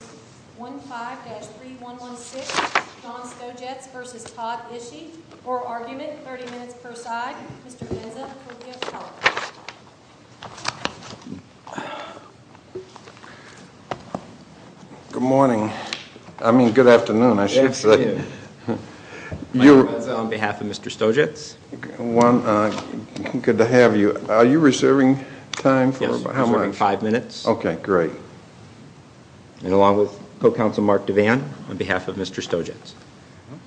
1-5-3116 Don Stojetz v. Todd Ishee. For argument, 30 minutes per side, Mr. Benza for the appellate. Good morning. I mean, good afternoon, I should say. Mike Benza on behalf of Mr. Stojetz. Good to have you. Are you reserving time for, how much? Yes, I'm reserving five minutes. Okay, great. And along with co-counsel Mark Devan on behalf of Mr. Stojetz.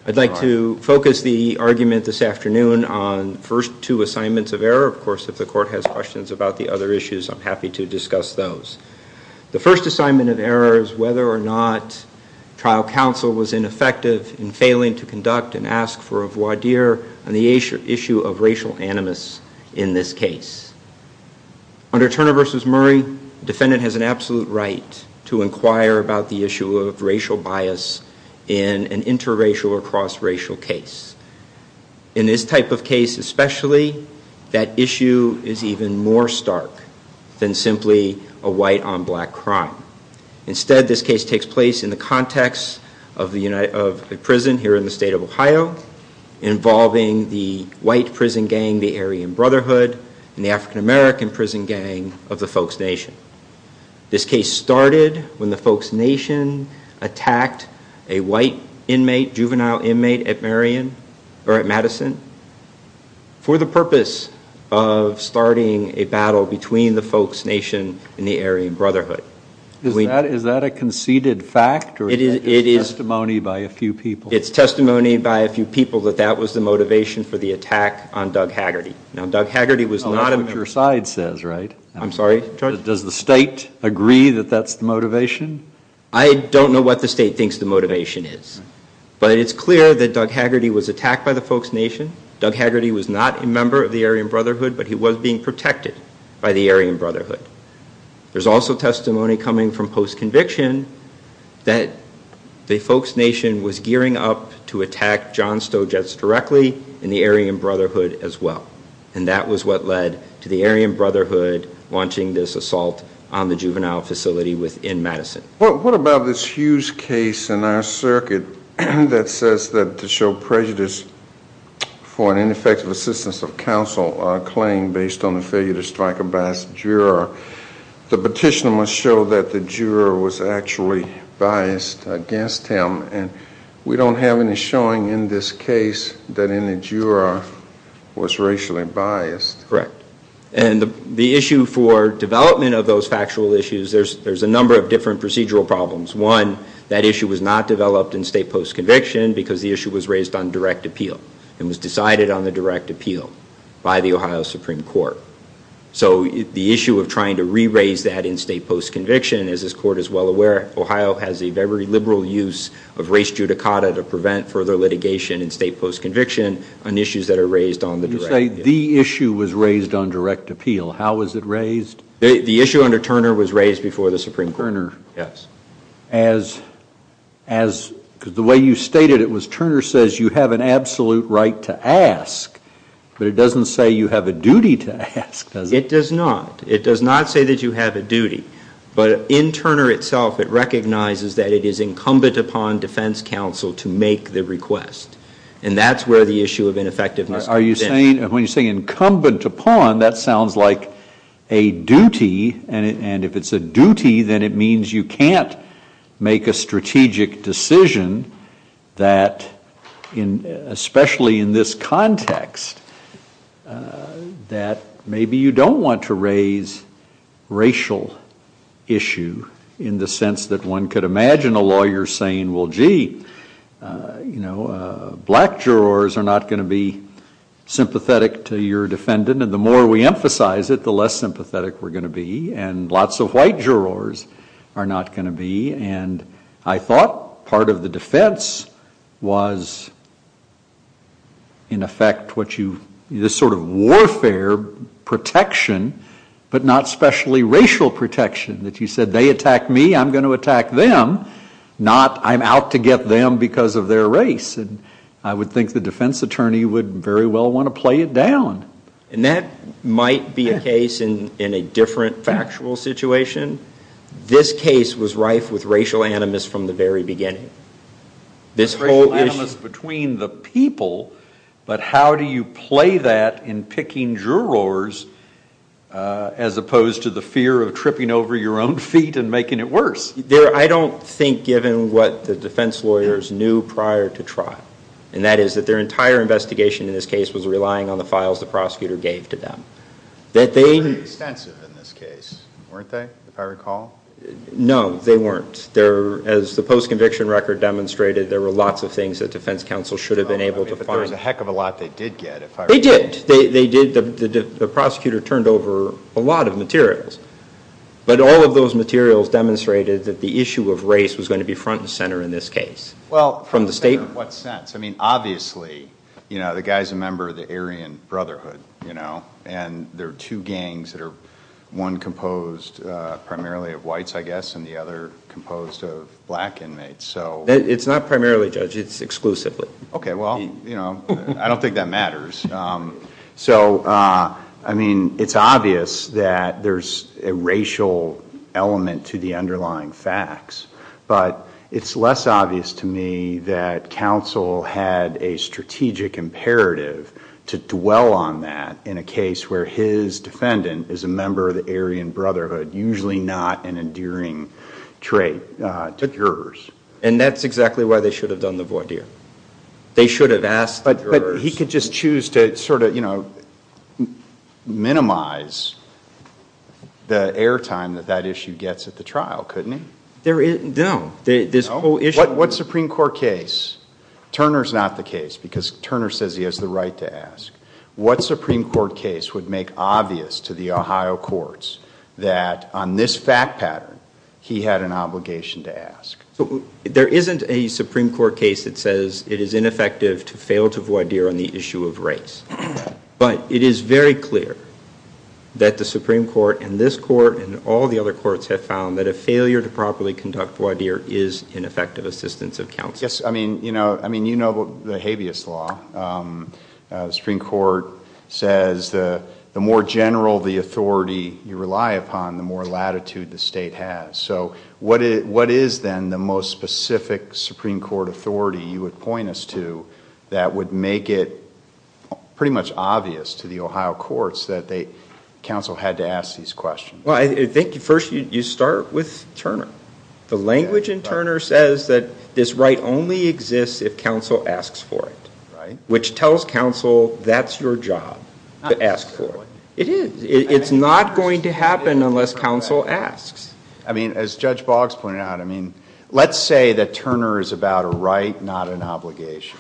I'd like to focus the argument this afternoon on first two assignments of error. Of course, if the court has questions about the other issues, I'm happy to discuss those. The first assignment of error is whether or not trial counsel was ineffective in failing to conduct and ask for a voir dire on the issue of racial animus in this case. Under Turner v. Murray, defendant has an absolute right to inquire about the issue of racial bias in an interracial or cross-racial case. In this type of case especially, that issue is even more stark than simply a white on black crime. Instead, this case takes place in the context of a prison here in the state of Ohio involving the white prison gang, the Aryan Brotherhood, and the African American prison gang of the Folks Nation. This case started when the Folks Nation attacked a white inmate, juvenile inmate at Madison for the purpose of starting a battle between the Folks Nation and the Aryan Brotherhood. Is that a conceded fact or is that just testimony by a few people? It's testimony by a few people that that was the motivation for the attack on Doug Haggerty. Not what your side says, right? I'm sorry? Does the state agree that that's the motivation? I don't know what the state thinks the motivation is, but it's clear that Doug Haggerty was attacked by the Folks Nation. Doug Haggerty was not a member of the Aryan Brotherhood, but he was being protected by the Aryan Brotherhood. There's also testimony coming from post-conviction that the Folks Nation was gearing up to attack John Stojets directly in the Aryan Brotherhood as well. And that was what led to the Aryan Brotherhood launching this assault on the juvenile facility within Madison. What about this Hughes case in our circuit that says that to show prejudice for an ineffective assistance of counsel claim based on the failure to strike a biased juror, the petitioner must show that the juror was actually biased against him, and we don't have any showing in this case that any juror was racially biased. Correct. And the issue for development of those factual issues, there's a number of different procedural problems. One, that issue was not developed in state post-conviction because the issue was raised on direct appeal. It was decided on the direct appeal by the Ohio Supreme Court. So the issue of trying to re-raise that in state post-conviction, as this court is well aware, Ohio has a very liberal use of race judicata to prevent further litigation in state post-conviction on issues that are raised on the direct appeal. So you're saying the issue was raised on direct appeal. How was it raised? The issue under Turner was raised before the Supreme Court. Yes. Because the way you stated it was Turner says you have an absolute right to ask, but it doesn't say you have a duty to ask, does it? It does not. It does not say that you have a duty. But in Turner itself, it recognizes that it is incumbent upon defense counsel to make the request, and that's where the issue of ineffectiveness comes in. When you say incumbent upon, that sounds like a duty, and if it's a duty, then it means you can't make a strategic decision that, especially in this context, that maybe you don't want to raise racial issue in the sense that one could imagine a lawyer saying, well, gee, black jurors are not going to be sympathetic to your defendant, and the more we emphasize it, the less sympathetic we're going to be, and lots of white jurors are not going to be, and I thought part of the defense was, in effect, this sort of warfare protection, but not especially racial protection, that you said they attack me, I'm going to attack them, not I'm out to get them because of their race, and I would think the defense attorney would very well want to play it down. And that might be a case in a different factual situation. This case was rife with racial animus from the very beginning. Racial animus between the people, but how do you play that in picking jurors, as opposed to the fear of tripping over your own feet and making it worse? I don't think, given what the defense lawyers knew prior to trial, and that is that their entire investigation in this case was relying on the files the prosecutor gave to them. They were pretty extensive in this case, weren't they, if I recall? No, they weren't. As the post-conviction record demonstrated, there were lots of things that defense counsel should have been able to find. But there was a heck of a lot they did get, if I recall. They did. The prosecutor turned over a lot of materials, but all of those materials demonstrated that the issue of race was going to be front and center in this case. Well, in what sense? I mean, obviously, the guy's a member of the Aryan Brotherhood, and there are two gangs that are, one composed primarily of whites, I guess, and the other composed of black inmates. It's not primarily, Judge, it's exclusively. Okay, well, I don't think that matters. So, I mean, it's obvious that there's a racial element to the underlying facts, but it's less obvious to me that counsel had a strategic imperative to dwell on that in a case where his defendant is a member of the Aryan Brotherhood, usually not an endearing trait to jurors. And that's exactly why they should have done the voir dire. They should have asked the jurors. But he could just choose to sort of, you know, minimize the airtime that that issue gets at the trial, couldn't he? No. What Supreme Court case? Turner's not the case because Turner says he has the right to ask. What Supreme Court case would make obvious to the Ohio courts that on this fact pattern, he had an obligation to ask? There isn't a Supreme Court case that says it is ineffective to fail to voir dire on the issue of race. But it is very clear that the Supreme Court and this court and all the other courts have found that a failure to properly conduct voir dire is ineffective assistance of counsel. Yes. I mean, you know the habeas law. The Supreme Court says the more general the authority you rely upon, the more latitude the state has. So what is then the most specific Supreme Court authority you would point us to that would make it pretty much obvious to the Ohio courts that counsel had to ask these questions? Well, I think first you start with Turner. The language in Turner says that this right only exists if counsel asks for it, which tells counsel that's your job to ask for it. It is. It's not going to happen unless counsel asks. I mean, as Judge Boggs pointed out, I mean, let's say that Turner is about a right, not an obligation.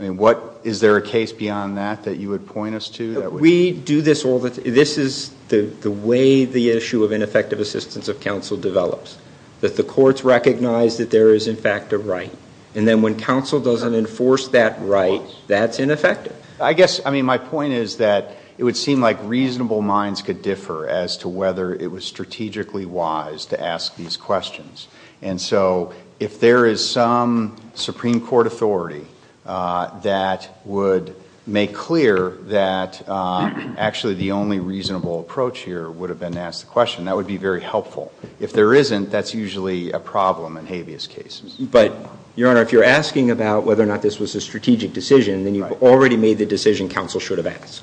I mean, is there a case beyond that that you would point us to? We do this all the time. This is the way the issue of ineffective assistance of counsel develops, that the courts recognize that there is, in fact, a right. And then when counsel doesn't enforce that right, that's ineffective. I guess, I mean, my point is that it would seem like reasonable minds could differ as to whether it was strategically wise to ask these questions. And so if there is some Supreme Court authority that would make clear that actually the only reasonable approach here would have been to ask the question, that would be very helpful. If there isn't, that's usually a problem in habeas cases. But, Your Honor, if you're asking about whether or not this was a strategic decision, then you've already made the decision counsel should have asked.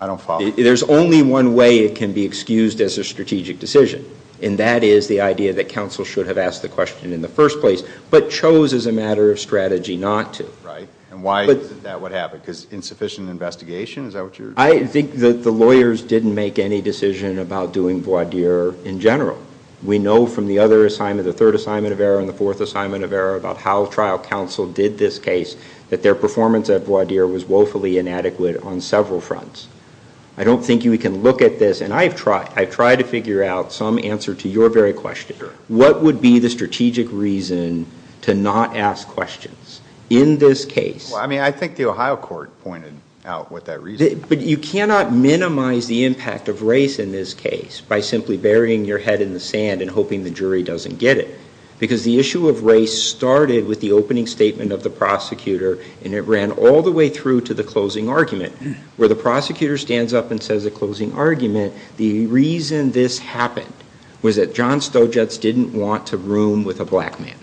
I don't follow. There's only one way it can be excused as a strategic decision, and that is the idea that counsel should have asked the question in the first place, but chose as a matter of strategy not to. Right. And why is that what happened? Because insufficient investigation? Is that what you're saying? I think that the lawyers didn't make any decision about doing voir dire in general. We know from the other assignment, the third assignment of error and the fourth assignment of error about how trial counsel did this case, that their performance at voir dire was woefully inadequate on several fronts. I don't think we can look at this. And I've tried to figure out some answer to your very question. Sure. What would be the strategic reason to not ask questions in this case? Well, I mean, I think the Ohio court pointed out what that reason is. But you cannot minimize the impact of race in this case by simply burying your head in the sand and hoping the jury doesn't get it. Because the issue of race started with the opening statement of the prosecutor, and it ran all the way through to the closing argument, where the prosecutor stands up and says a closing argument, the reason this happened was that John Stojets didn't want to room with a black man.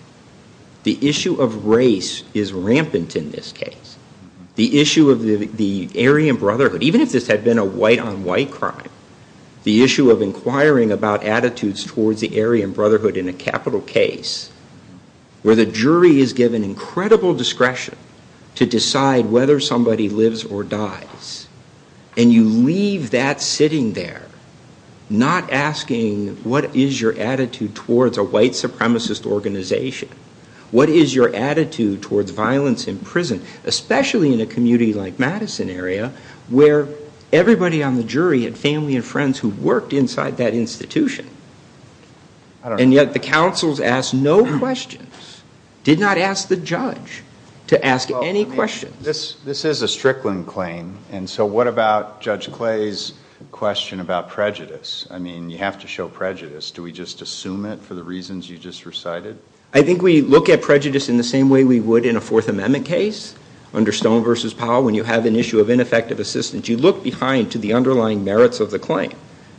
The issue of race is rampant in this case. The issue of the Aryan Brotherhood, even if this had been a white-on-white crime, the issue of inquiring about attitudes towards the Aryan Brotherhood in a capital case, where the jury is given incredible discretion to decide whether somebody lives or dies, and you leave that sitting there, not asking what is your attitude towards a white supremacist organization, what is your attitude towards violence in prison, especially in a community like Madison area, where everybody on the jury had family and friends who worked inside that institution. And yet the counsels asked no questions, did not ask the judge to ask any questions. This is a Strickland claim, and so what about Judge Clay's question about prejudice? I mean, you have to show prejudice. Do we just assume it for the reasons you just recited? I think we look at prejudice in the same way we would in a Fourth Amendment case. Under Stone v. Powell, when you have an issue of ineffective assistance, you look behind to the underlying merits of the claim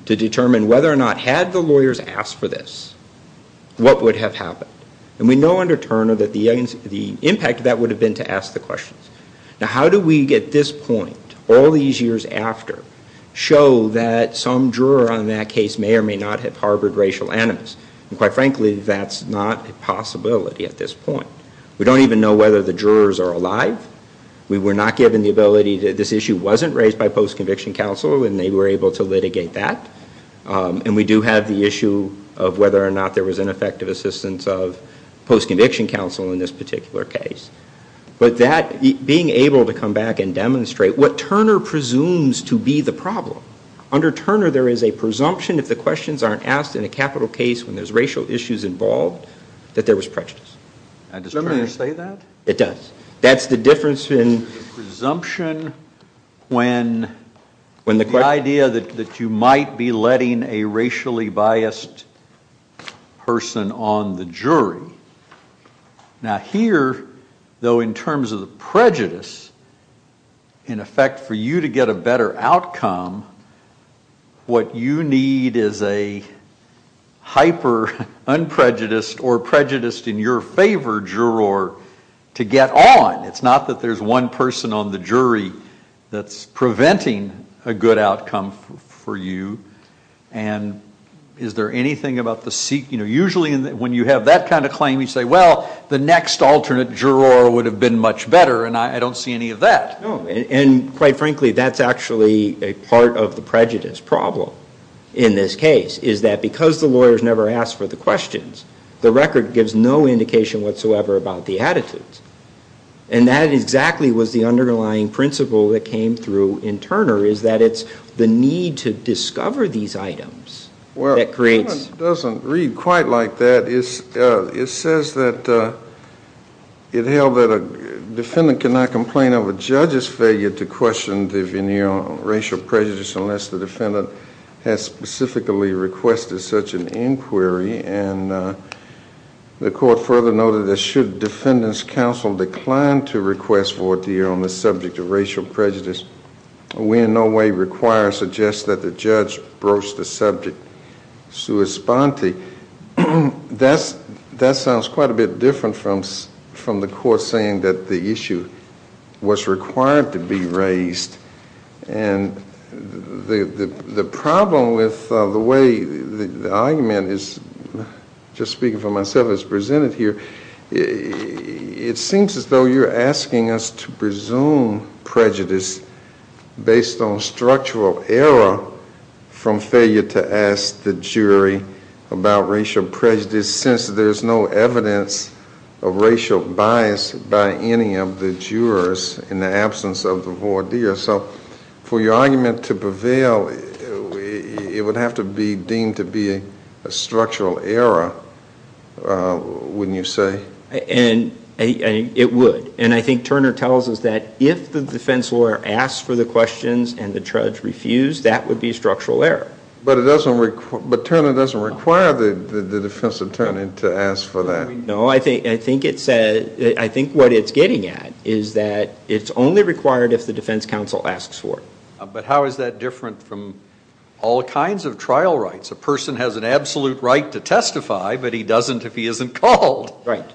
to determine whether or not, had the lawyers asked for this, what would have happened. And we know under Turner that the impact of that would have been to ask the questions. Now, how do we, at this point, all these years after, show that some juror on that case may or may not have harbored racial animus? And quite frankly, that's not a possibility at this point. We don't even know whether the jurors are alive. We were not given the ability to, this issue wasn't raised by post-conviction counsel, and they were able to litigate that. And we do have the issue of whether or not there was ineffective assistance of post-conviction counsel in this particular case. But that, being able to come back and demonstrate what Turner presumes to be the problem, under Turner there is a presumption if the questions aren't asked in a capital case when there's racial issues involved, that there was prejudice. Does Turner say that? It does. That's the difference in presumption when the idea that you might be letting a racially biased person on the jury. Now, here, though, in terms of the prejudice, in effect, for you to get a better outcome, what you need is a hyper-unprejudiced or prejudiced in your favor juror to get on. It's not that there's one person on the jury that's preventing a good outcome for you. And is there anything about the seek, you know, usually when you have that kind of claim, you say, well, the next alternate juror would have been much better, and I don't see any of that. No, and quite frankly, that's actually a part of the prejudice problem in this case, is that because the lawyers never ask for the questions, the record gives no indication whatsoever about the attitudes. And that exactly was the underlying principle that came through in Turner, is that it's the need to discover these items that creates. Well, it doesn't read quite like that. It says that it held that a defendant cannot complain of a judge's failure to question the veneer of racial prejudice unless the defendant has specifically requested such an inquiry. And the court further noted that should defendant's counsel decline to request for a deal on the subject of racial prejudice, we in no way require or suggest that the judge broach the subject sui sponte. That sounds quite a bit different from the court saying that the issue was required to be raised. And the problem with the way the argument is, just speaking for myself as presented here, it seems as though you're asking us to presume prejudice based on structural error from failure to ask the jury about racial prejudice since there's no evidence of racial bias by any of the jurors in the absence of the voir dire. So for your argument to prevail, it would have to be deemed to be a structural error, wouldn't you say? It would. And I think Turner tells us that if the defense lawyer asks for the questions and the judge refused, that would be structural error. But Turner doesn't require the defense attorney to ask for that. No, I think what it's getting at is that it's only required if the defense counsel asks for it. But how is that different from all kinds of trial rights? A person has an absolute right to testify, but he doesn't if he isn't called. Right.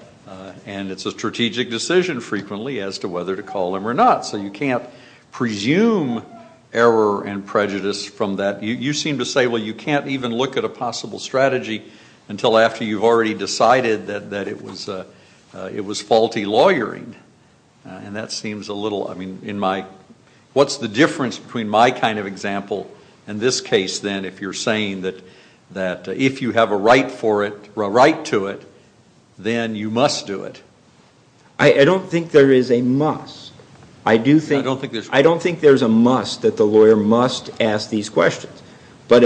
And it's a strategic decision frequently as to whether to call him or not. So you can't presume error and prejudice from that. You seem to say, well, you can't even look at a possible strategy until after you've already decided that it was faulty lawyering. And that seems a little, I mean, in my, what's the difference between my kind of example and this case, then, if you're saying that if you have a right to it, then you must do it? I don't think there is a must. I don't think there's a must that the lawyer must ask these questions. But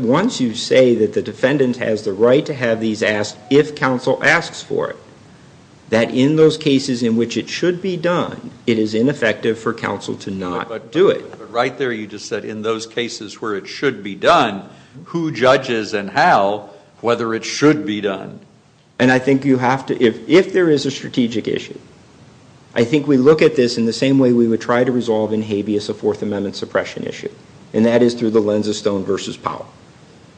once you say that the defendant has the right to have these asked if counsel asks for it, that in those cases in which it should be done, it is ineffective for counsel to not do it. But right there you just said in those cases where it should be done, who judges and how whether it should be done. And I think you have to, if there is a strategic issue, I think we look at this in the same way we would try to resolve in habeas a Fourth Amendment suppression issue. And that is through the lens of stone versus power.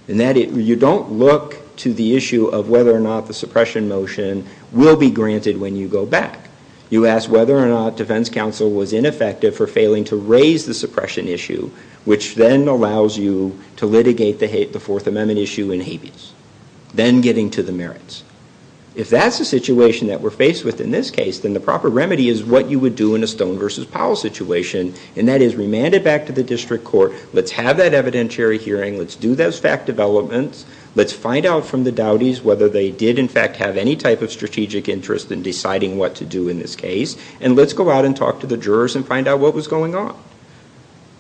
And that you don't look to the issue of whether or not the suppression motion will be granted when you go back. You ask whether or not defense counsel was ineffective for failing to raise the suppression issue, which then allows you to litigate the Fourth Amendment issue in habeas. Then getting to the merits. If that's the situation that we're faced with in this case, then the proper remedy is what you would do in a stone versus power situation. And that is remand it back to the district court. Let's have that evidentiary hearing. Let's do those fact developments. Let's find out from the dowdies whether they did in fact have any type of strategic interest in deciding what to do in this case. And let's go out and talk to the jurors and find out what was going on.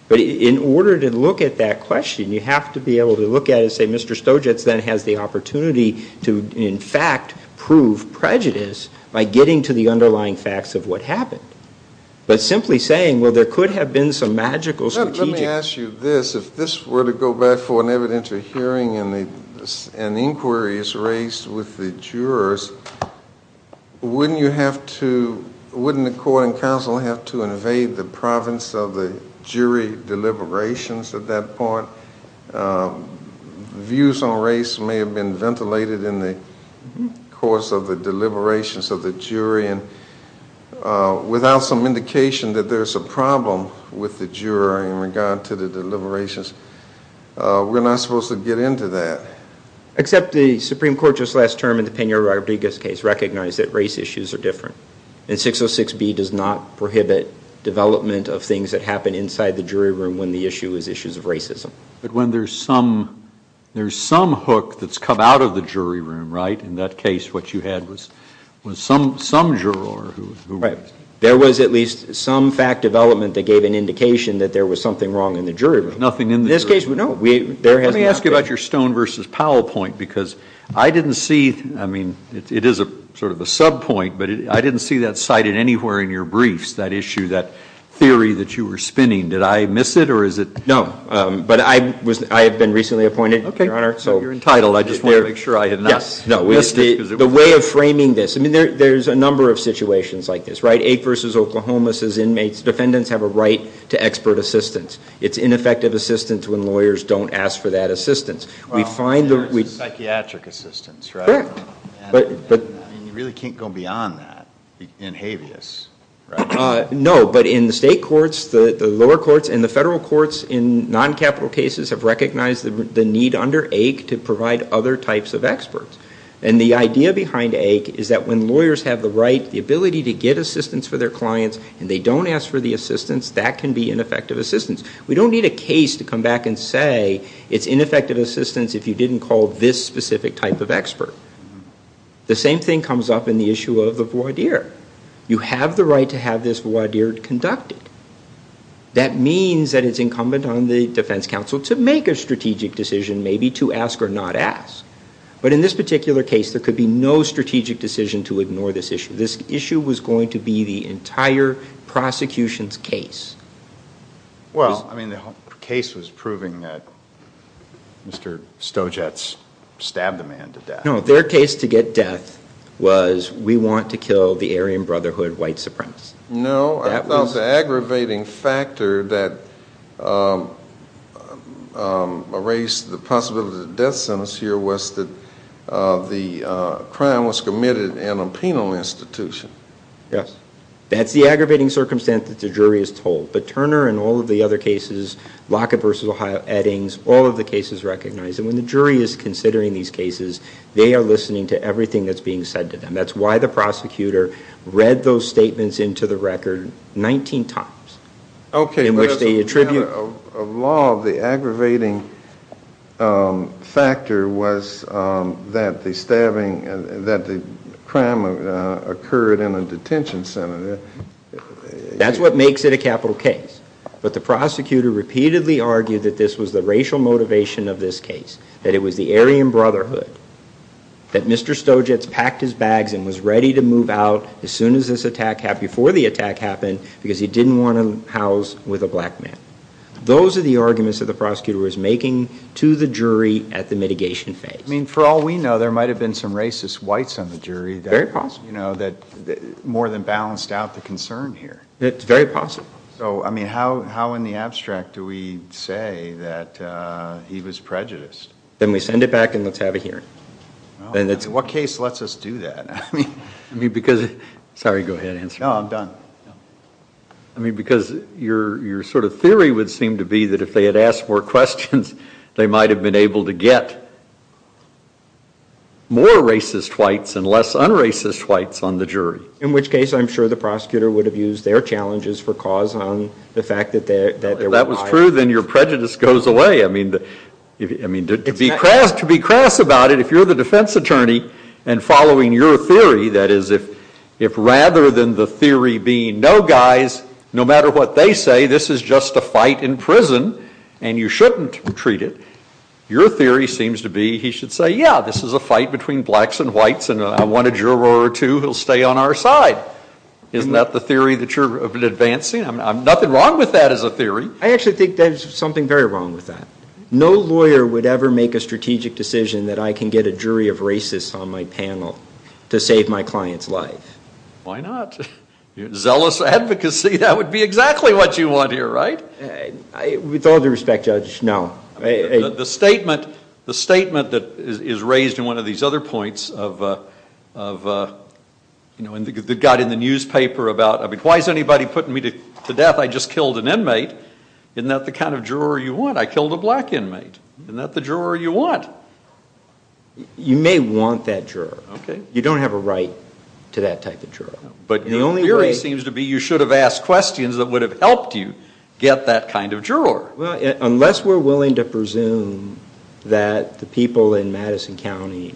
But in order to look at that question, you have to be able to look at it and say, Mr. Stojic then has the opportunity to, in fact, prove prejudice by getting to the underlying facts of what happened. But simply saying, well, there could have been some magical strategic... Let me ask you this. If this were to go back for an evidentiary hearing and an inquiry is raised with the jurors, wouldn't the court and counsel have to invade the province of the jury deliberations at that point? Views on race may have been ventilated in the course of the deliberations of the jury. And without some indication that there's a problem with the jury in regard to the deliberations, we're not supposed to get into that. Except the Supreme Court just last term in the Peña-Rodriguez case recognized that race issues are different. And 606B does not prohibit development of things that happen inside the jury room when the issue is issues of racism. But when there's some hook that's come out of the jury room, right? In that case, what you had was some juror who... Right. There was at least some fact development that gave an indication that there was something wrong in the jury room. Nothing in the jury room. In this case, no. Let me ask you about your Stone v. Powell point because I didn't see, I mean, it is sort of a sub point, but I didn't see that cited anywhere in your briefs, that issue, that theory that you were spinning. Did I miss it or is it... No. But I have been recently appointed, Your Honor. Okay. So you're entitled. I just wanted to make sure I had not missed it. The way of framing this, I mean, there's a number of situations like this, right? Ake v. Oklahoma says inmates, defendants have a right to expert assistance. It's ineffective assistance when lawyers don't ask for that assistance. We find... Psychiatric assistance, right? Correct. You really can't go beyond that in habeas, right? No. But in the state courts, the lower courts and the federal courts in non-capital cases have recognized the need under Ake to provide other types of experts. And the idea behind Ake is that when lawyers have the right, the ability to get assistance for their clients and they don't ask for the assistance, that can be ineffective assistance. We don't need a case to come back and say it's ineffective assistance if you didn't call this specific type of expert. The same thing comes up in the issue of the voir dire. You have the right to have this voir dire conducted. That means that it's incumbent on the defense counsel to make a strategic decision, maybe to ask or not ask. But in this particular case, there could be no strategic decision to ignore this issue. This issue was going to be the entire prosecution's case. Well, I mean, the case was proving that Mr. Stojatz stabbed the man to death. No, their case to get death was we want to kill the Aryan Brotherhood white supremacist. No, I thought the aggravating factor that raised the possibility of death sentence here was that the crime was committed in a penal institution. Yes, that's the aggravating circumstance that the jury is told. But Turner and all of the other cases, Lockett versus Eddings, all of the cases recognized. And when the jury is considering these cases, they are listening to everything that's being said to them. That's why the prosecutor read those statements into the record 19 times in which they attribute. A law of the aggravating factor was that the stabbing, that the crime occurred in a detention center. That's what makes it a capital case. But the prosecutor repeatedly argued that this was the racial motivation of this case, that it was the Aryan Brotherhood, that Mr. Stojatz packed his bags and was ready to move out as soon as this attack, before the attack happened, because he didn't want to house with a black man. Those are the arguments that the prosecutor was making to the jury at the mitigation phase. I mean, for all we know, there might have been some racist whites on the jury. Very possible. You know, that more than balanced out the concern here. It's very possible. So, I mean, how in the abstract do we say that he was prejudiced? Then we send it back and let's have a hearing. What case lets us do that? I mean, because, sorry, go ahead, answer. No, I'm done. I mean, because your sort of theory would seem to be that if they had asked more questions, they might have been able to get more racist whites and less un-racist whites on the jury. In which case, I'm sure the prosecutor would have used their challenges for cause on the fact that there were... If that's true, then your prejudice goes away. I mean, to be crass about it, if you're the defense attorney and following your theory, that is, if rather than the theory being no, guys, no matter what they say, this is just a fight in prison, and you shouldn't treat it, your theory seems to be he should say, yeah, this is a fight between blacks and whites, and I want a juror or two who will stay on our side. Isn't that the theory that you're advancing? I mean, nothing wrong with that as a theory. I actually think there's something very wrong with that. No lawyer would ever make a strategic decision that I can get a jury of racists on my panel to save my client's life. Why not? Zealous advocacy, that would be exactly what you want here, right? With all due respect, Judge, no. The statement that is raised in one of these other points that got in the newspaper about, why is anybody putting me to death? I just killed an inmate. Isn't that the kind of juror you want? I killed a black inmate. Isn't that the juror you want? You may want that juror. Okay. You don't have a right to that type of juror. But the only theory seems to be you should have asked questions that would have helped you get that kind of juror. Well, unless we're willing to presume that the people in Madison County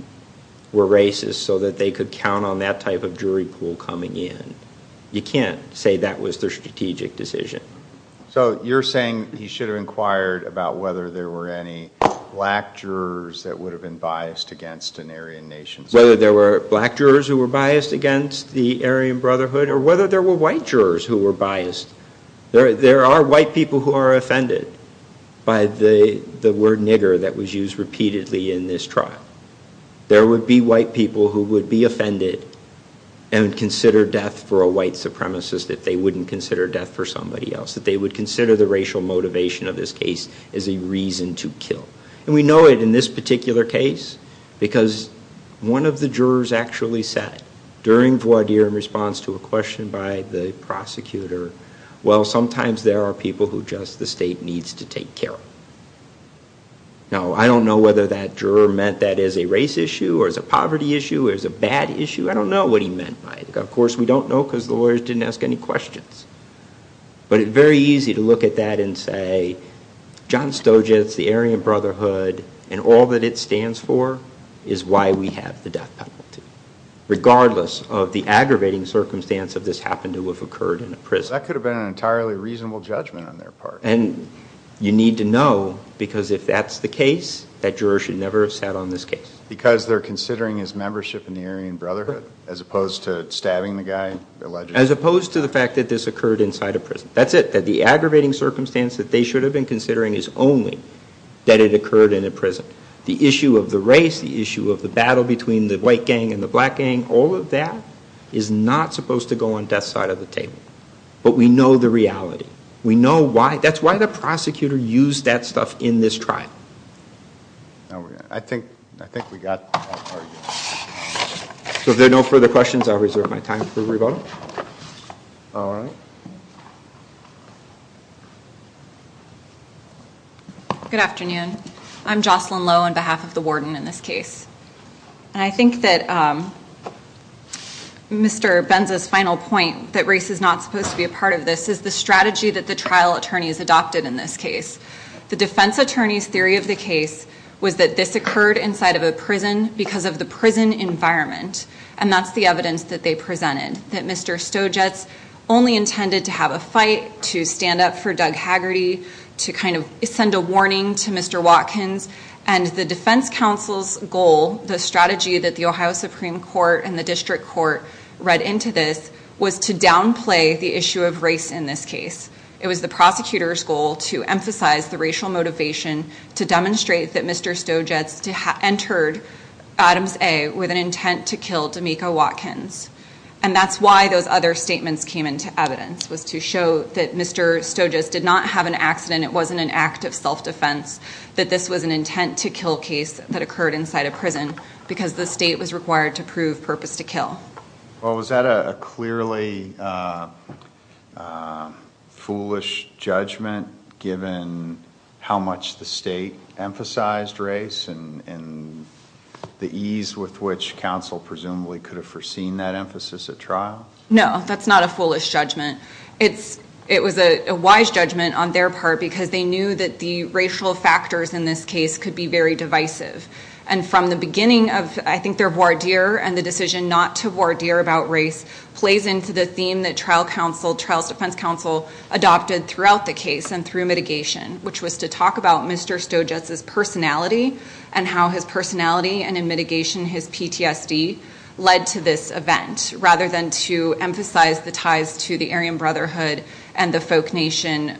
were racists so that they could count on that type of jury pool coming in, you can't say that was their strategic decision. So you're saying he should have inquired about whether there were any black jurors that would have been biased against an Aryan nation? Whether there were black jurors who were biased against the Aryan Brotherhood or whether there were white jurors who were biased. There are white people who are offended by the word nigger that was used repeatedly in this trial. There would be white people who would be offended and consider death for a white supremacist if they wouldn't consider death for somebody else, if they would consider the racial motivation of this case as a reason to kill. And we know it in this particular case because one of the jurors actually said, during voir dire in response to a question by the prosecutor, well, sometimes there are people who just the state needs to take care of. Now, I don't know whether that juror meant that as a race issue or as a poverty issue or as a bad issue. I don't know what he meant by it. Of course, we don't know because the lawyers didn't ask any questions. But it's very easy to look at that and say, John Stoja, it's the Aryan Brotherhood and all that it stands for is why we have the death penalty. Regardless of the aggravating circumstance of this happened to have occurred in a prison. That could have been an entirely reasonable judgment on their part. And you need to know because if that's the case, that juror should never have sat on this case. Because they're considering his membership in the Aryan Brotherhood as opposed to stabbing the guy allegedly? As opposed to the fact that this occurred inside a prison. That's it. That the aggravating circumstance that they should have been considering is only that it occurred in a prison. The issue of the race, the issue of the battle between the white gang and the black gang, all of that is not supposed to go on death's side of the table. But we know the reality. We know why. That's why the prosecutor used that stuff in this trial. I think we got that part. If there are no further questions, I'll reserve my time for revoting. All right. Good afternoon. I'm Jocelyn Lowe on behalf of the warden in this case. And I think that Mr. Benza's final point that race is not supposed to be a part of this is the strategy that the trial attorneys adopted in this case. The defense attorney's theory of the case was that this occurred inside of a prison because of the prison environment. And that's the evidence that they presented. That Mr. Stojatz only intended to have a fight, to stand up for Doug Haggerty, to kind of send a warning to Mr. Watkins. And the defense counsel's goal, the strategy that the Ohio Supreme Court and the district court read into this, was to downplay the issue of race in this case. It was the prosecutor's goal to emphasize the racial motivation to demonstrate that Mr. Stojatz entered Adams A. with an intent to kill D'Amico Watkins. And that's why those other statements came into evidence, was to show that Mr. Stojatz did not have an accident, it wasn't an act of self-defense, that this was an intent to kill case that occurred inside a prison because the state was required to prove purpose to kill. Well, was that a clearly foolish judgment given how much the state emphasized race and the ease with which counsel presumably could have foreseen that emphasis at trial? No, that's not a foolish judgment. It was a wise judgment on their part because they knew that the racial factors in this case could be very divisive. And from the beginning of, I think, their voir dire and the decision not to voir dire about race plays into the theme that trial defense counsel adopted throughout the case and through mitigation, which was to talk about Mr. Stojatz's personality and how his personality and in mitigation his PTSD led to this event rather than to emphasize the ties to the Aryan Brotherhood and the folk nation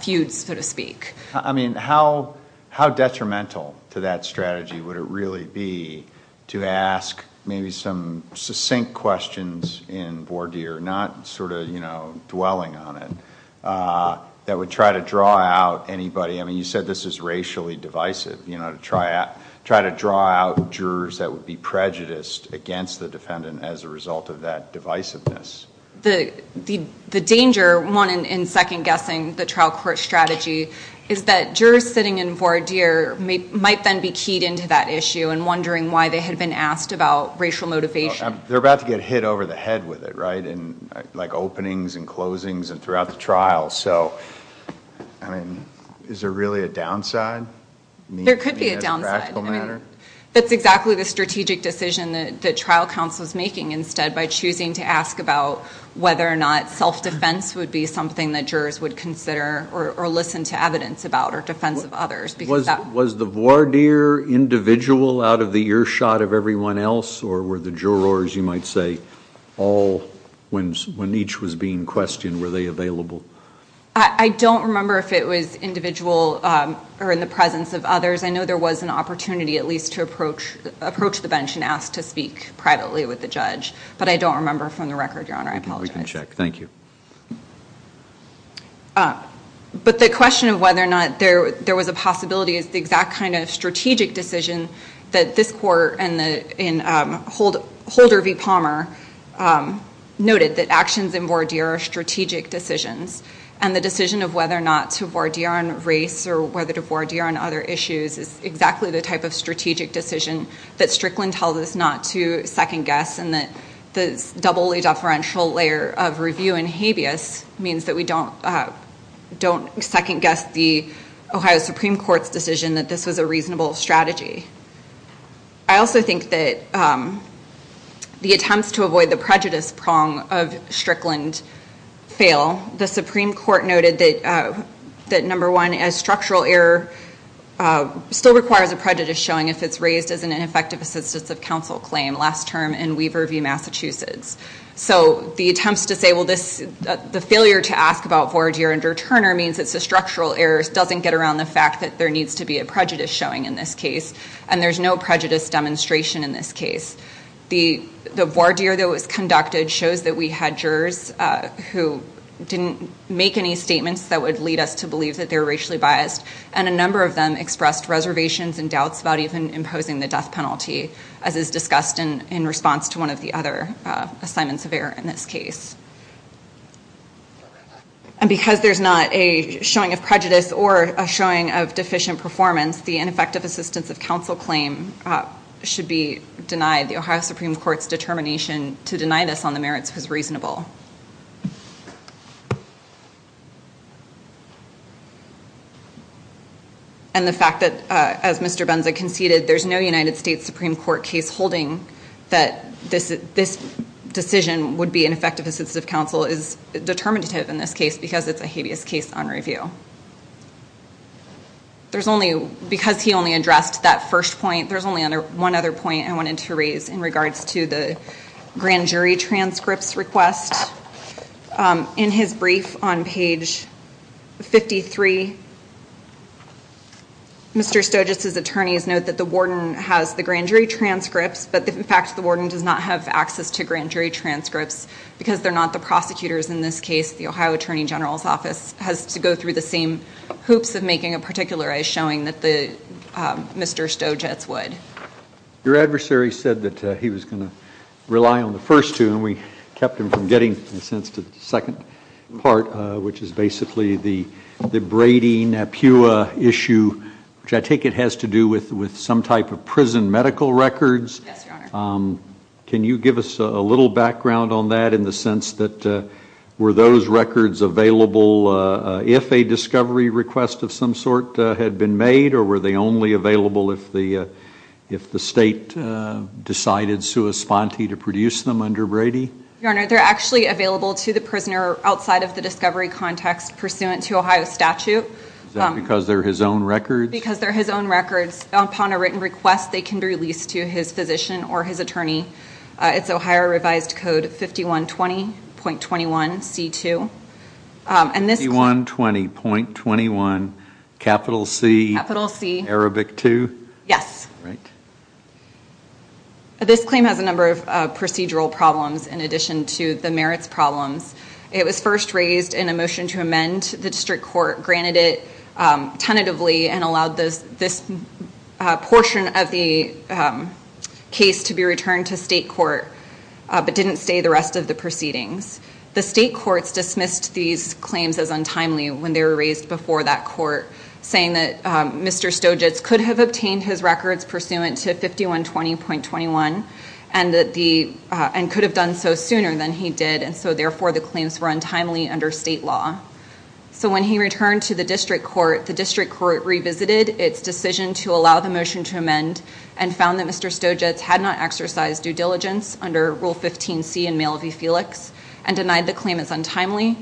feuds, so to speak. I mean, how detrimental to that strategy would it really be to ask maybe some succinct questions in voir dire, not sort of, you know, dwelling on it, that would try to draw out anybody. I mean, you said this is racially divisive, you know, to try to draw out jurors that would be prejudiced against the defendant as a result of that divisiveness. The danger, one, in second-guessing the trial court strategy is that jurors sitting in voir dire might then be keyed into that issue and wondering why they had been asked about racial motivation. They're about to get hit over the head with it, right, in like openings and closings and throughout the trial. So, I mean, is there really a downside? There could be a downside. I mean, as a practical matter? That's exactly the strategic decision that trial counsel is making instead by choosing to ask about whether or not self-defense would be something that jurors would consider or listen to evidence about or defense of others. Was the voir dire individual out of the earshot of everyone else or were the jurors, you might say, all when each was being questioned, were they available? I don't remember if it was individual or in the presence of others. I know there was an opportunity at least to approach the bench and ask to speak privately with the judge, but I don't remember from the record, Your Honor. I apologize. We can check. Thank you. But the question of whether or not there was a possibility is the exact kind of strategic decision that this court and in Holder v. Palmer noted that actions in voir dire are strategic decisions, and the decision of whether or not to voir dire on race or whether to voir dire on other issues is exactly the type of strategic decision that Strickland tells us not to second guess and that the doubly deferential layer of review in habeas means that we don't second guess the Ohio Supreme Court's decision that this was a reasonable strategy. I also think that the attempts to avoid the prejudice prong of Strickland fail. The Supreme Court noted that, number one, a structural error still requires a prejudice showing if it's raised as an ineffective assistance of counsel claim last term in Weaver v. Massachusetts. So the attempts to say, well, the failure to ask about voir dire under Turner means it's a structural error, doesn't get around the fact that there needs to be a prejudice showing in this case, and there's no prejudice demonstration in this case. The voir dire that was conducted shows that we had jurors who didn't make any statements that would lead us to believe that they were racially biased, and a number of them expressed reservations and doubts about even imposing the death penalty, as is discussed in response to one of the other assignments of error in this case. And because there's not a showing of prejudice or a showing of deficient performance, the ineffective assistance of counsel claim should be denied. The Ohio Supreme Court's determination to deny this on the merits was reasonable. And the fact that, as Mr. Benza conceded, there's no United States Supreme Court case holding that this decision would be ineffective assistance of counsel is determinative in this case because it's a habeas case on review. Because he only addressed that first point, there's only one other point I wanted to raise in regards to the grand jury transcripts request. In his brief on page 53, Mr. Stojic's attorneys note that the warden has the grand jury transcripts, but in fact the warden does not have access to grand jury transcripts because they're not the prosecutors in this case. The Ohio Attorney General's Office has to go through the same hoops of making a particularized showing that Mr. Stojic's would. Your adversary said that he was going to rely on the first two, and we kept him from getting, in a sense, to the second part, which is basically the Brady-Napua issue, which I take it has to do with some type of prison medical records. Yes, Your Honor. Can you give us a little background on that in the sense that were those records available if a discovery request of some sort had been made, or were they only available if the state decided sua sponte to produce them under Brady? Your Honor, they're actually available to the prisoner outside of the discovery context pursuant to Ohio statute. Is that because they're his own records? Because they're his own records. Upon a written request, they can be released to his physician or his attorney. It's Ohio revised code 5120.21C2. 5120.21, capital C, Arabic 2? Yes. Right. This claim has a number of procedural problems in addition to the merits problems. It was first raised in a motion to amend. The district court granted it tentatively and allowed this portion of the case to be returned to state court, but didn't stay the rest of the proceedings. The state courts dismissed these claims as untimely when they were raised before that court, saying that Mr. Stojic could have obtained his records pursuant to 5120.21 and could have done so sooner than he did, and so therefore the claims were untimely under state law. So when he returned to the district court, the district court revisited its decision to allow the motion to amend and found that Mr. Stojic had not exercised due diligence under Rule 15C in Mail v. Felix and denied the claim as untimely.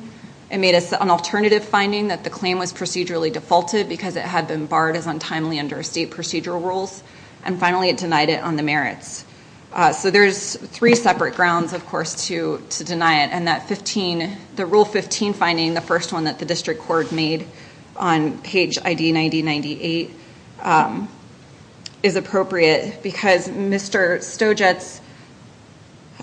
It made an alternative finding that the claim was procedurally defaulted because it had been barred as untimely under state procedural rules, and finally it denied it on the merits. So there's three separate grounds, of course, to deny it, and the Rule 15 finding, the first one that the district court made on page ID 9098, is appropriate because Mr.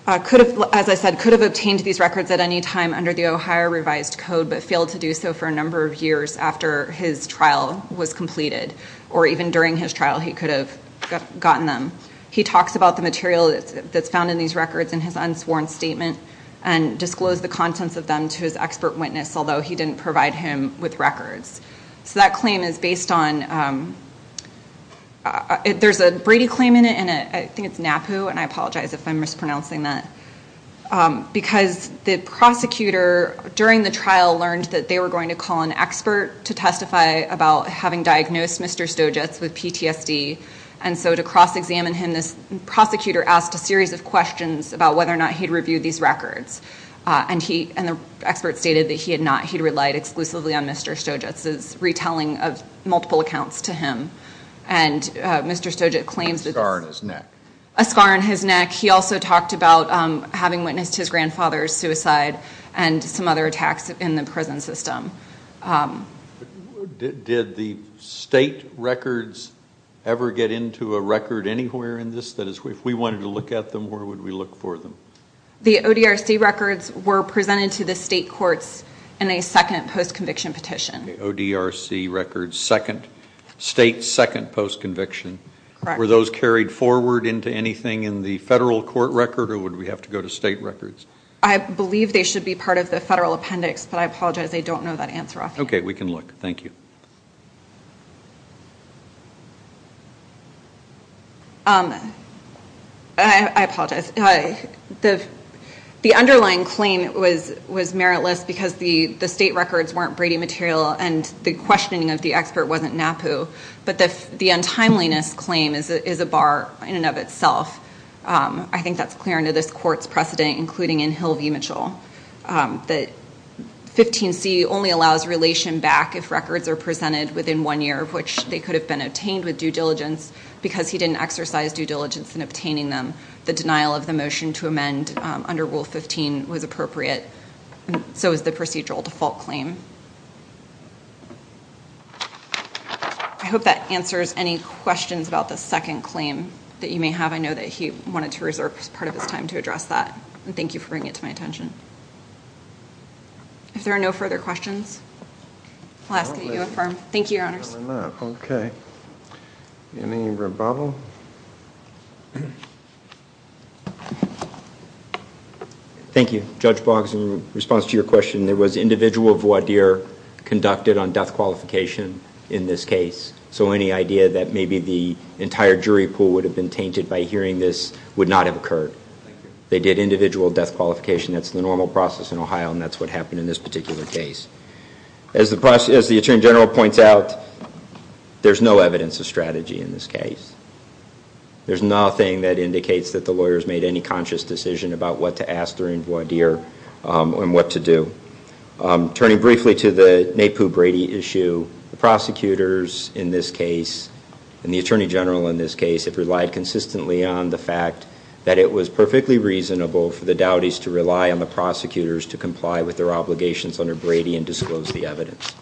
Stojic, as I said, could have obtained these records at any time under the Ohio Revised Code, but failed to do so for a number of years after his trial was completed, or even during his trial he could have gotten them. He talks about the material that's found in these records in his unsworn statement and disclosed the contents of them to his expert witness, although he didn't provide him with records. So that claim is based on, there's a Brady claim in it, and I think it's NAPU, and I apologize if I'm mispronouncing that, because the prosecutor during the trial learned that they were going to call an expert to testify about having diagnosed Mr. Stojic with PTSD, and so to cross-examine him this prosecutor asked a series of questions about whether or not he'd reviewed these records, and the expert stated that he had not, he'd relied exclusively on Mr. Stojic's retelling of multiple accounts to him. And Mr. Stojic claims that this- A scar on his neck. He also talked about having witnessed his grandfather's suicide and some other attacks in the prison system. Did the state records ever get into a record anywhere in this? That is, if we wanted to look at them, where would we look for them? The ODRC records were presented to the state courts in a second post-conviction petition. The ODRC records, second, state second post-conviction. Correct. Were those carried forward into anything in the federal court record, or would we have to go to state records? I believe they should be part of the federal appendix, but I apologize, I don't know that answer off hand. Okay, we can look. Thank you. I apologize. The underlying claim was meritless because the state records weren't Brady material, and the questioning of the expert wasn't NAPU, but the untimeliness claim is a bar in and of itself. I think that's clear under this court's precedent, including in Hill v. Mitchell. The 15C only allows relation back if records are presented within one year, of which they could have been obtained with due diligence, because he didn't exercise due diligence in obtaining them. The denial of the motion to amend under Rule 15 was appropriate, and so is the procedural default claim. I hope that answers any questions about the second claim that you may have. I know that he wanted to reserve part of his time to address that, and thank you for bringing it to my attention. If there are no further questions, I'll ask that you affirm. Thank you, Your Honors. Thank you. Judge Boggs, in response to your question, there was individual voir dire conducted on death qualification in this case, so any idea that maybe the entire jury pool would have been tainted by hearing this would not have occurred. They did individual death qualification. That's the normal process in Ohio, and that's what happened in this particular case. As the Attorney General points out, there's no evidence of strategy in this case. There's nothing that indicates that the lawyers made any conscious decision about what to ask during voir dire and what to do. Turning briefly to the Napoo Brady issue, the prosecutors in this case, and the Attorney General in this case, have relied consistently on the fact that it was perfectly reasonable for the Dowdies to rely on the prosecutors to comply with their obligations under Brady and disclose the evidence.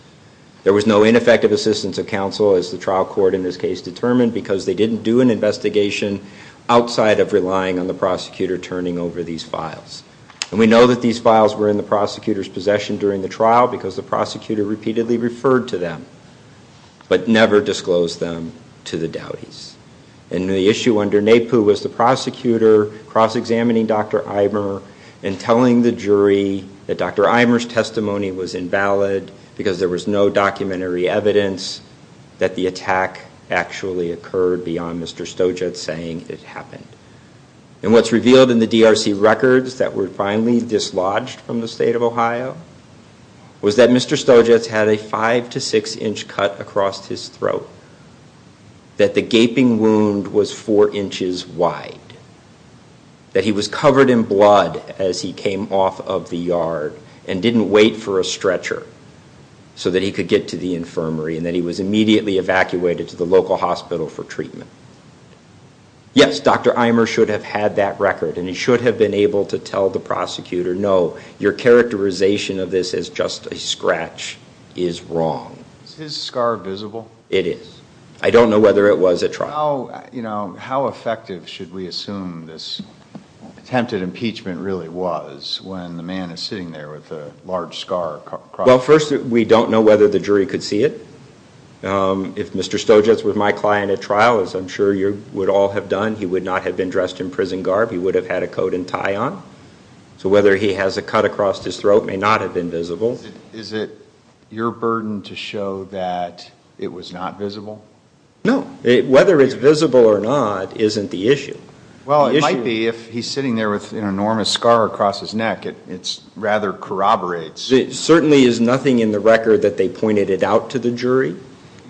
There was no ineffective assistance of counsel, as the trial court in this case determined, because they didn't do an investigation outside of relying on the prosecutor turning over these files. And we know that these files were in the prosecutor's possession during the trial because the prosecutor repeatedly referred to them, but never disclosed them to the Dowdies. And the issue under Napoo was the prosecutor cross-examining Dr. Eimer and telling the jury that Dr. Eimer's testimony was invalid because there was no documentary evidence that the attack actually occurred beyond Mr. Stojat saying it happened. And what's revealed in the DRC records that were finally dislodged from the state of Ohio was that Mr. Stojat had a 5 to 6 inch cut across his throat, that the gaping wound was 4 inches wide, that he was covered in blood as he came off of the yard and didn't wait for a stretcher so that he could get to the infirmary, and that he was immediately evacuated to the local hospital for treatment. Yes, Dr. Eimer should have had that record and he should have been able to tell the prosecutor, no, your characterization of this as just a scratch is wrong. Is his scar visible? It is. I don't know whether it was at trial. How effective should we assume this attempted impeachment really was when the man is sitting there with a large scar across his throat? Well, first, we don't know whether the jury could see it. If Mr. Stojat was my client at trial, as I'm sure you would all have done, he would not have been dressed in prison garb. He would have had a coat and tie on. So whether he has a cut across his throat may not have been visible. Is it your burden to show that it was not visible? No. Whether it's visible or not isn't the issue. Well, it might be if he's sitting there with an enormous scar across his neck. It rather corroborates. Certainly is nothing in the record that they pointed it out to the jury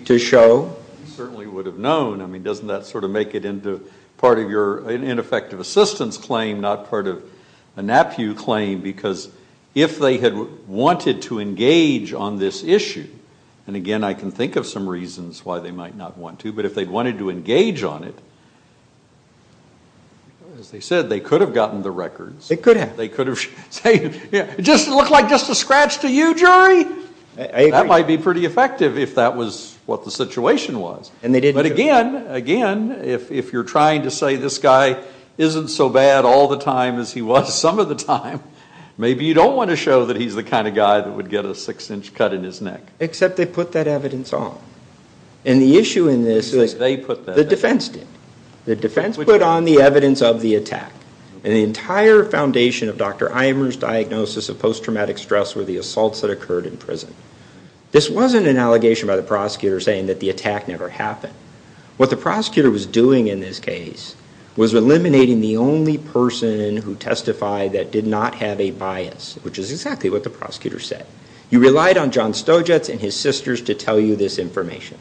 to show? They certainly would have known. I mean, doesn't that sort of make it part of your ineffective assistance claim, not part of a NAPU claim? Because if they had wanted to engage on this issue, and again I can think of some reasons why they might not want to, but if they wanted to engage on it, as they said, they could have gotten the records. They could have. It looked like just a scratch to you, jury? That might be pretty effective if that was what the situation was. But again, if you're trying to say this guy isn't so bad all the time as he was some of the time, maybe you don't want to show that he's the kind of guy that would get a six-inch cut in his neck. Except they put that evidence on. And the issue in this is the defense did. The defense put on the evidence of the attack. And the entire foundation of Dr. Imer's diagnosis of post-traumatic stress were the assaults that occurred in prison. This wasn't an allegation by the prosecutor saying that the attack never happened. What the prosecutor was doing in this case was eliminating the only person who testified that did not have a bias, which is exactly what the prosecutor said. You relied on John Stojatz and his sisters to tell you this information.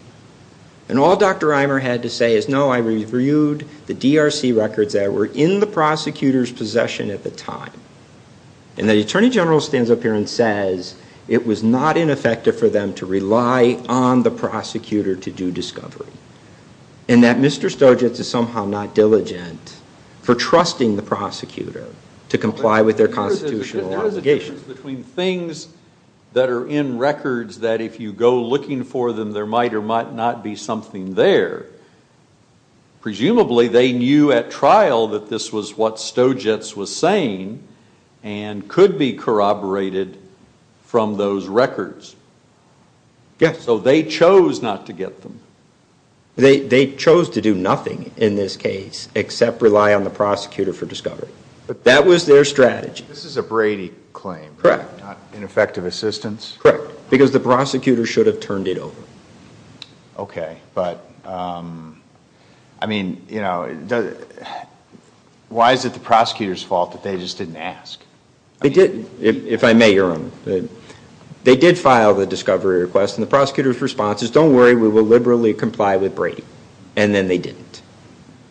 And all Dr. Imer had to say is, no, I reviewed the DRC records that were in the prosecutor's possession at the time. And the attorney general stands up here and says it was not ineffective for them to rely on the prosecutor to do discovery. And that Mr. Stojatz is somehow not diligent for trusting the prosecutor to comply with their constitutional obligations. The difference between things that are in records that if you go looking for them there might or might not be something there, presumably they knew at trial that this was what Stojatz was saying and could be corroborated from those records. So they chose not to get them. They chose to do nothing in this case except rely on the prosecutor for discovery. That was their strategy. This is a Brady claim, not ineffective assistance? Correct. Because the prosecutor should have turned it over. Okay. But, I mean, you know, why is it the prosecutor's fault that they just didn't ask? They didn't, if I may, Your Honor. They did file the discovery request, and the prosecutor's response is, don't worry, we will liberally comply with Brady. And then they didn't.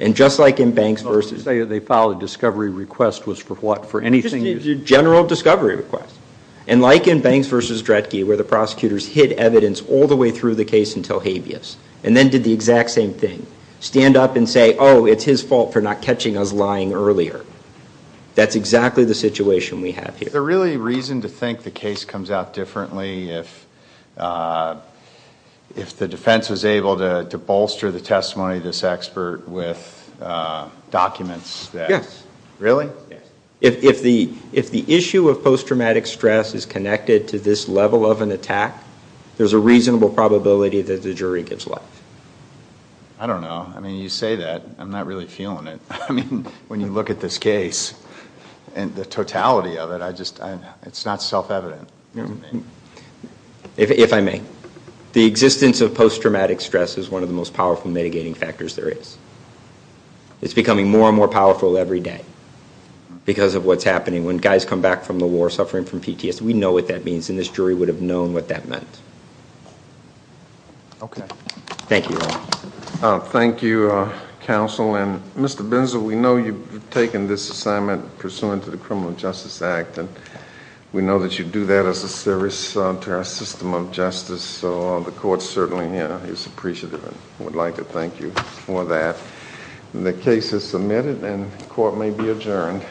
And just like in Banks v. Of course, they filed a discovery request was for what, for anything? Just a general discovery request. And like in Banks v. Dretke, where the prosecutors hid evidence all the way through the case until habeas, and then did the exact same thing, stand up and say, oh, it's his fault for not catching us lying earlier. That's exactly the situation we have here. Is there really reason to think the case comes out differently if the defense was able to bolster the testimony of this expert with documents? Yes. Really? Yes. If the issue of post-traumatic stress is connected to this level of an attack, there's a reasonable probability that the jury gives life. I don't know. I mean, you say that. I'm not really feeling it. I mean, when you look at this case and the totality of it, it's not self-evident. If I may. The existence of post-traumatic stress is one of the most powerful mitigating factors there is. It's becoming more and more powerful every day because of what's happening. When guys come back from the war suffering from PTSD, we know what that means, and this jury would have known what that meant. Okay. Thank you. Thank you, counsel. Mr. Binzel, we know you've taken this assignment pursuant to the Criminal Justice Act, and we know that you do that as a service to our system of justice, so the court certainly is appreciative and would like to thank you for that. The case is submitted, and the court may be adjourned.